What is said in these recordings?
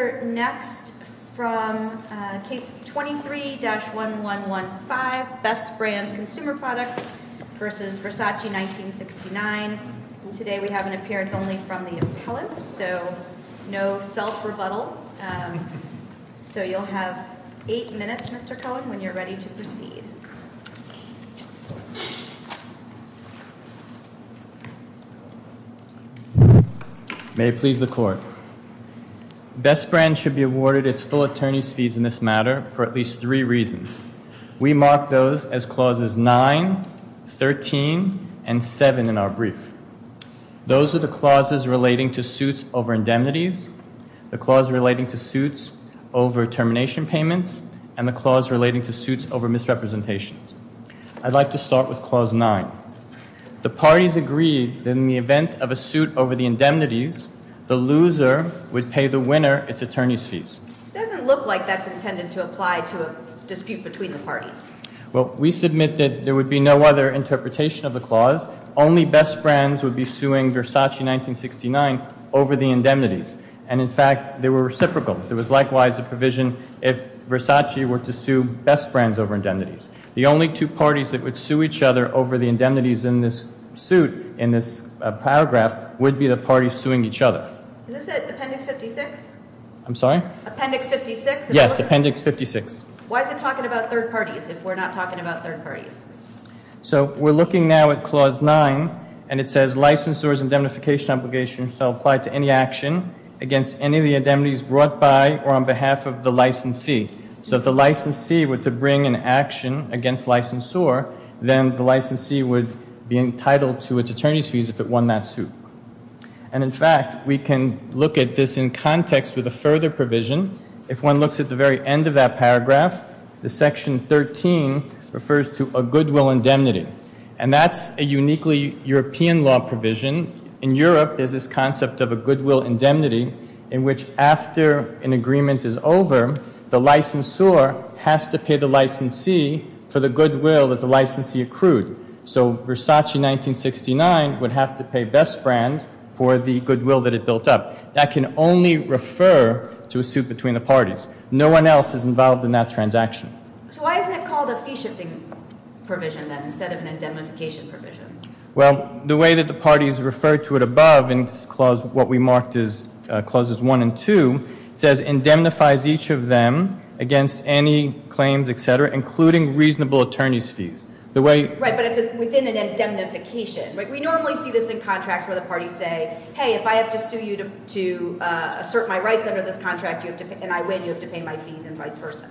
We're next from Case 23-1115 Best Brands Consumer Products v. Versace 19.69. Today we have an appearance only from the appellant, so no self-rebuttal. So you'll have eight minutes, Mr. Cohen, when you're ready to proceed. May it please the Court. Best Brands should be awarded its full attorney's fees in this matter for at least three reasons. We mark those as Clauses 9, 13, and 7 in our brief. Those are the clauses relating to suits over indemnities, the clause relating to suits over termination payments, and the clause relating to suits over misrepresentations. I'd like to start with Clause 9. The parties agreed that in the event of a suit over the indemnities, the loser would pay the winner its attorney's fees. It doesn't look like that's intended to apply to a dispute between the parties. Well, we submit that there would be no other interpretation of the clause. Only Best Brands would be suing Versace 1969 over the indemnities. And in fact, they were reciprocal. There was likewise a provision if Versace were to sue Best Brands over indemnities. The only two parties that would sue each other over the indemnities in this suit, in this paragraph, would be the parties suing each other. Is this Appendix 56? I'm sorry? Appendix 56? Yes, Appendix 56. Why is it talking about third parties if we're not talking about third parties? So we're looking now at Clause 9, and it says licensors' indemnification obligations shall apply to any action against any of the indemnities brought by or on behalf of the licensee. So if the licensee were to bring an action against licensor, then the licensee would be entitled to its attorney's fees if it won that suit. And in fact, we can look at this in context with a further provision. If one looks at the very end of that paragraph, the Section 13 refers to a goodwill indemnity. And that's a uniquely European law provision. In Europe, there's this concept of a goodwill indemnity in which after an agreement is over, the licensor has to pay the licensee for the goodwill that the licensee accrued. So Versace 1969 would have to pay Best Brands for the goodwill that it built up. That can only refer to a suit between the parties. No one else is involved in that transaction. So why isn't it called a fee-shifting provision then instead of an indemnification provision? Well, the way that the parties refer to it above in this clause, what we marked as clauses 1 and 2, it says indemnifies each of them against any claims, et cetera, including reasonable attorney's fees. Right, but it's within an indemnification. We normally see this in contracts where the parties say, hey, if I have to sue you to assert my rights under this contract and I win, you have to pay my fees and vice versa.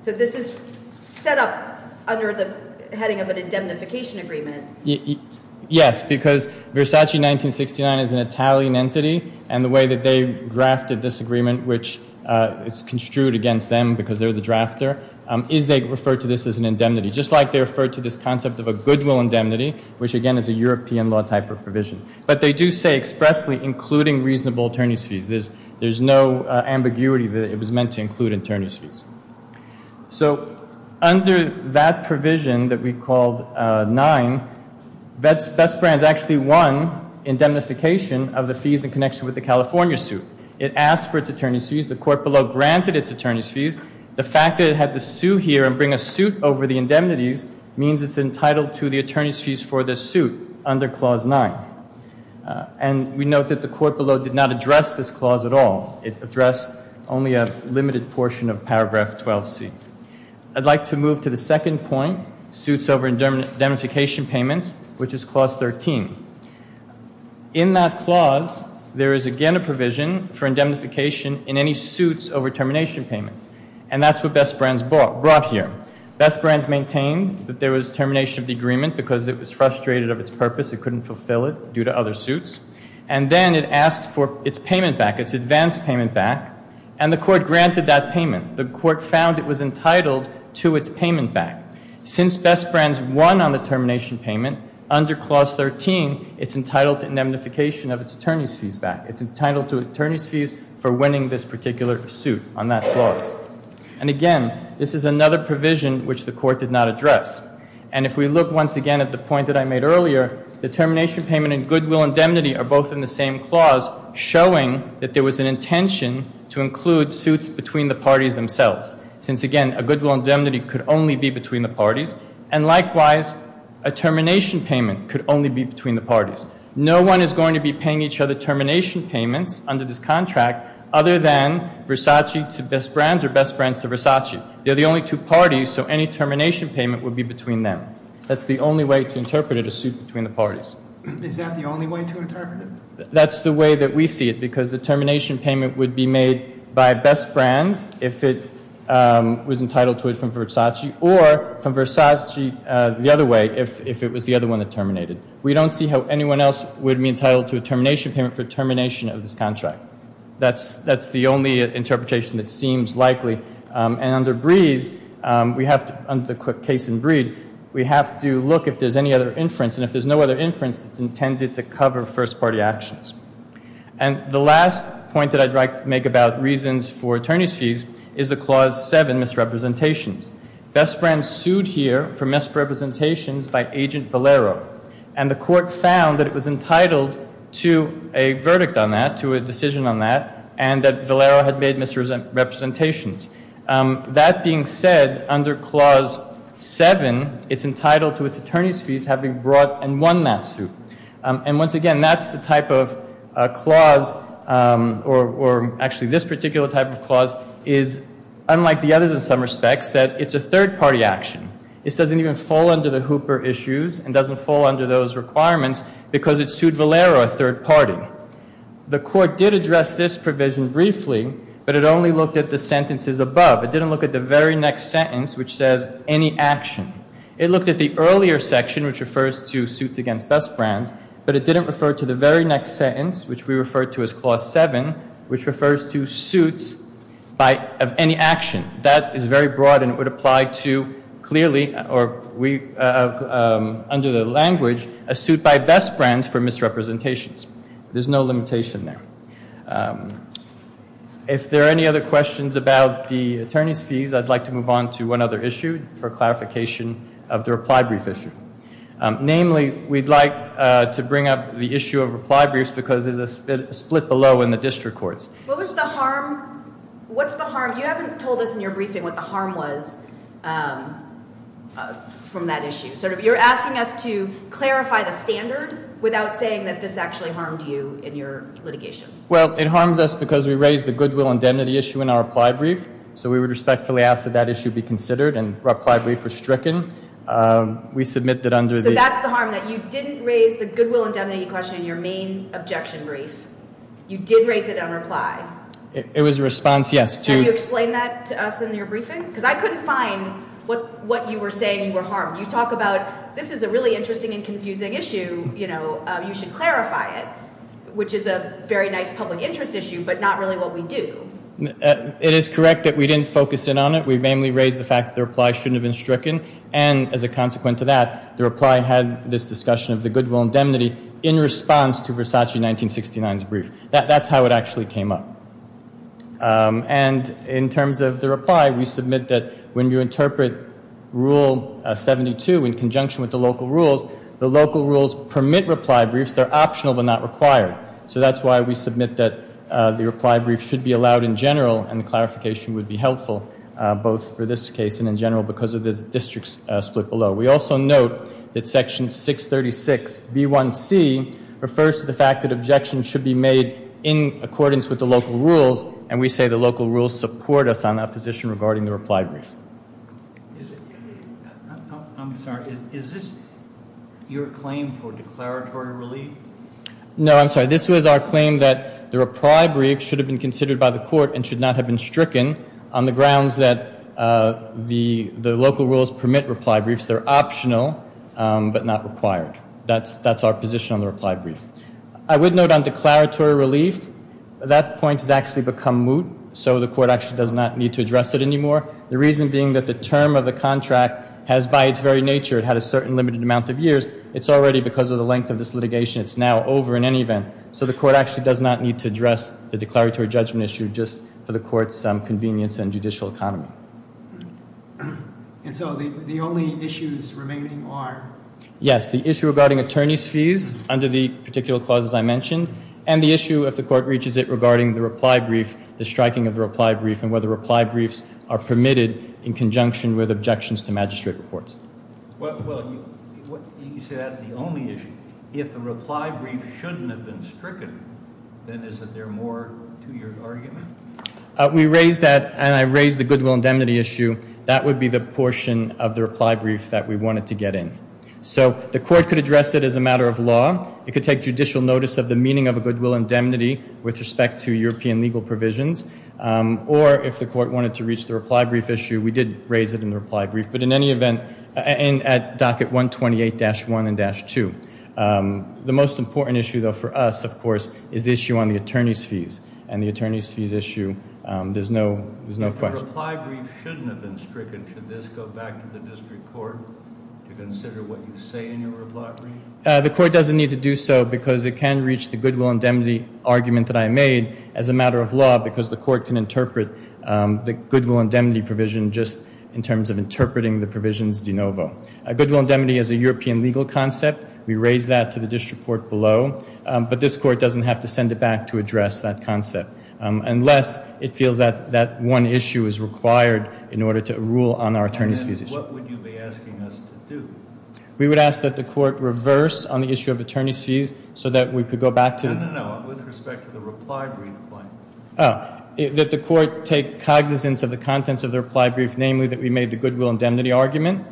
So this is set up under the heading of an indemnification agreement. Yes, because Versace 1969 is an Italian entity and the way that they grafted this agreement, which is construed against them because they're the drafter, is they refer to this as an indemnity, just like they refer to this concept of a goodwill indemnity, which again is a European law type of provision. But they do say expressly including reasonable attorney's fees. There's no ambiguity that it was meant to include attorney's fees. So under that provision that we called 9, Best Brands actually won indemnification of the fees in connection with the California suit. It asked for its attorney's fees. The court below granted its attorney's fees. The fact that it had to sue here and bring a suit over the indemnities means it's entitled to the attorney's fees for this suit under Clause 9. And we note that the court below did not address this clause at all. It addressed only a limited portion of Paragraph 12C. I'd like to move to the second point, suits over indemnification payments, which is Clause 13. In that clause, there is again a provision for indemnification in any suits over termination payments. And that's what Best Brands brought here. Best Brands maintained that there was termination of the agreement because it was frustrated of its purpose. It couldn't fulfill it due to other suits. And then it asked for its payment back, its advance payment back. And the court granted that payment. The court found it was entitled to its payment back. Since Best Brands won on the termination payment, under Clause 13, it's entitled to indemnification of its attorney's fees back. It's entitled to attorney's fees for winning this particular suit on that clause. And again, this is another provision which the court did not address. And if we look once again at the point that I made earlier, the termination payment and goodwill indemnity are both in the same clause, showing that there was an intention to include suits between the parties themselves. Since again, a goodwill indemnity could only be between the parties. And likewise, a termination payment could only be between the parties. No one is going to be paying each other termination payments under this contract other than Versace to Best Brands or Best Brands to Versace. They're the only two parties, so any termination payment would be between them. That's the only way to interpret it, a suit between the parties. Is that the only way to interpret it? That's the way that we see it, because the termination payment would be made by Best Brands if it was entitled to it from Versace, or from Versace the other way if it was the other one that terminated. We don't see how anyone else would be entitled to a termination payment for termination of this contract. That's the only interpretation that seems likely. And under Breed, under the case in Breed, we have to look if there's any other inference, and if there's no other inference, it's intended to cover first-party actions. And the last point that I'd like to make about reasons for attorneys' fees is the Clause 7, misrepresentations. Best Brands sued here for misrepresentations by Agent Valero, and the court found that it was entitled to a verdict on that, to a decision on that, and that Valero had made misrepresentations. That being said, under Clause 7, it's entitled to its attorneys' fees having brought and won that suit. And once again, that's the type of clause, or actually this particular type of clause, is, unlike the others in some respects, that it's a third-party action. This doesn't even fall under the Hooper issues and doesn't fall under those requirements because it sued Valero, a third party. The court did address this provision briefly, but it only looked at the sentences above. It didn't look at the very next sentence, which says, any action. It looked at the earlier section, which refers to suits against Best Brands, but it didn't refer to the very next sentence, which we refer to as Clause 7, which refers to suits of any action. That is very broad, and it would apply to, clearly, or under the language, a suit by Best Brands for misrepresentations. There's no limitation there. If there are any other questions about the attorneys' fees, I'd like to move on to one other issue for clarification of the reply brief issue. Namely, we'd like to bring up the issue of reply briefs because there's a split below in the district courts. What was the harm? What's the harm? You haven't told us in your briefing what the harm was from that issue. You're asking us to clarify the standard without saying that this actually harmed you in your litigation. Well, it harms us because we raised the goodwill indemnity issue in our reply brief, so we would respectfully ask that that issue be considered, and our reply brief was stricken. So that's the harm, that you didn't raise the goodwill indemnity question in your main objection brief. You did raise it on reply. It was a response, yes. Can you explain that to us in your briefing? Because I couldn't find what you were saying were harmed. You talk about this is a really interesting and confusing issue. You should clarify it, which is a very nice public interest issue, but not really what we do. It is correct that we didn't focus in on it. We mainly raised the fact that the reply shouldn't have been stricken, and as a consequence of that, the reply had this discussion of the goodwill indemnity in response to Versace 1969's brief. That's how it actually came up. And in terms of the reply, we submit that when you interpret Rule 72 in conjunction with the local rules, the local rules permit reply briefs. They're optional but not required. So that's why we submit that the reply brief should be allowed in general, and the clarification would be helpful both for this case and in general because of the district's split below. We also note that Section 636B1C refers to the fact that objections should be made in accordance with the local rules, and we say the local rules support us on that position regarding the reply brief. I'm sorry. Is this your claim for declaratory relief? No, I'm sorry. This was our claim that the reply brief should have been considered by the court and should not have been stricken on the grounds that the local rules permit reply briefs. They're optional but not required. That's our position on the reply brief. I would note on declaratory relief, that point has actually become moot, so the court actually does not need to address it anymore, the reason being that the term of the contract has, by its very nature, had a certain limited amount of years. It's already, because of the length of this litigation, it's now over in any event, so the court actually does not need to address the declaratory judgment issue just for the court's convenience and judicial economy. And so the only issues remaining are? Yes, the issue regarding attorney's fees under the particular clauses I mentioned, and the issue, if the court reaches it, regarding the reply brief, the striking of the reply brief, and whether reply briefs are permitted in conjunction with objections to magistrate reports. Well, you say that's the only issue. If the reply brief shouldn't have been stricken, then is there more to your argument? We raised that, and I raised the goodwill indemnity issue. That would be the portion of the reply brief that we wanted to get in. So the court could address it as a matter of law. It could take judicial notice of the meaning of a goodwill indemnity with respect to European legal provisions, or if the court wanted to reach the reply brief issue, we did raise it in the reply brief, but in any event, at docket 128-1 and dash 2. The most important issue, though, for us, of course, is the issue on the attorney's fees, and the attorney's fees issue, there's no question. If the reply brief shouldn't have been stricken, should this go back to the district court to consider what you say in your reply brief? The court doesn't need to do so because it can reach the goodwill indemnity argument that I made as a matter of law because the court can interpret the goodwill indemnity provision just in terms of interpreting the provisions de novo. Goodwill indemnity is a European legal concept. We raised that to the district court below, but this court doesn't have to send it back to address that concept unless it feels that that one issue is required in order to rule on our attorney's fees issue. And then what would you be asking us to do? We would ask that the court reverse on the issue of attorney's fees so that we could go back to the- No, that the court take cognizance of the contents of the reply brief, namely that we made the goodwill indemnity argument,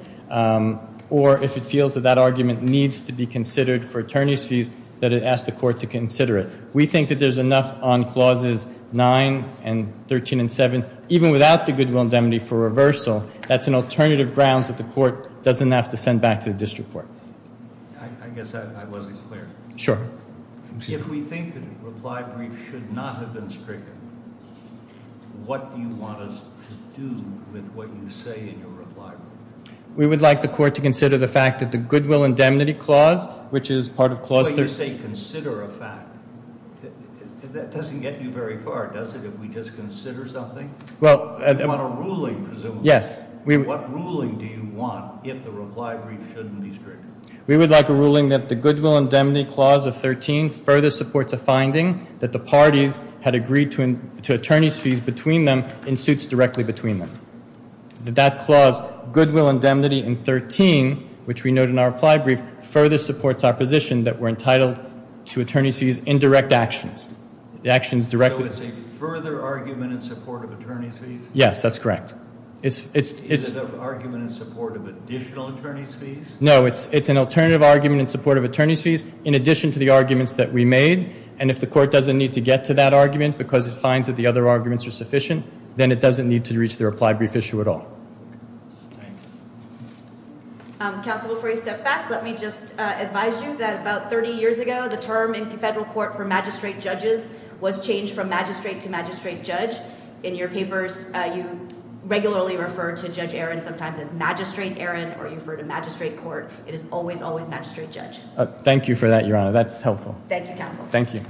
or if it feels that that argument needs to be considered for attorney's fees, that it ask the court to consider it. We think that there's enough on clauses 9 and 13 and 7, even without the goodwill indemnity for reversal, that's an alternative grounds that the court doesn't have to send back to the district court. I guess I wasn't clear. Sure. If we think that a reply brief should not have been stricken, what do you want us to do with what you say in your reply brief? We would like the court to consider the fact that the goodwill indemnity clause, which is part of clause- But you say consider a fact. That doesn't get you very far, does it, if we just consider something? Well- You want a ruling, presumably. Yes. What ruling do you want if the reply brief shouldn't be stricken? We would like a ruling that the goodwill indemnity clause of 13 further supports a finding that the parties had agreed to attorney's fees between them in suits directly between them. That that clause, goodwill indemnity in 13, which we note in our reply brief, further supports our position that we're entitled to attorney's fees in direct actions. The actions directly- So it's a further argument in support of attorney's fees? Yes, that's correct. Is it an argument in support of additional attorney's fees? No, it's an alternative argument in support of attorney's fees in addition to the arguments that we made. And if the court doesn't need to get to that argument because it finds that the other arguments are sufficient, then it doesn't need to reach the reply brief issue at all. Thanks. Counsel, before you step back, let me just advise you that about 30 years ago, the term in federal court for magistrate judges was changed from magistrate to magistrate judge. In your papers, you regularly refer to Judge Aaron sometimes as magistrate Aaron, or you refer to magistrate court. It is always, always magistrate judge. Thank you for that, Your Honor. That's helpful. Thank you, Counsel. Thank you.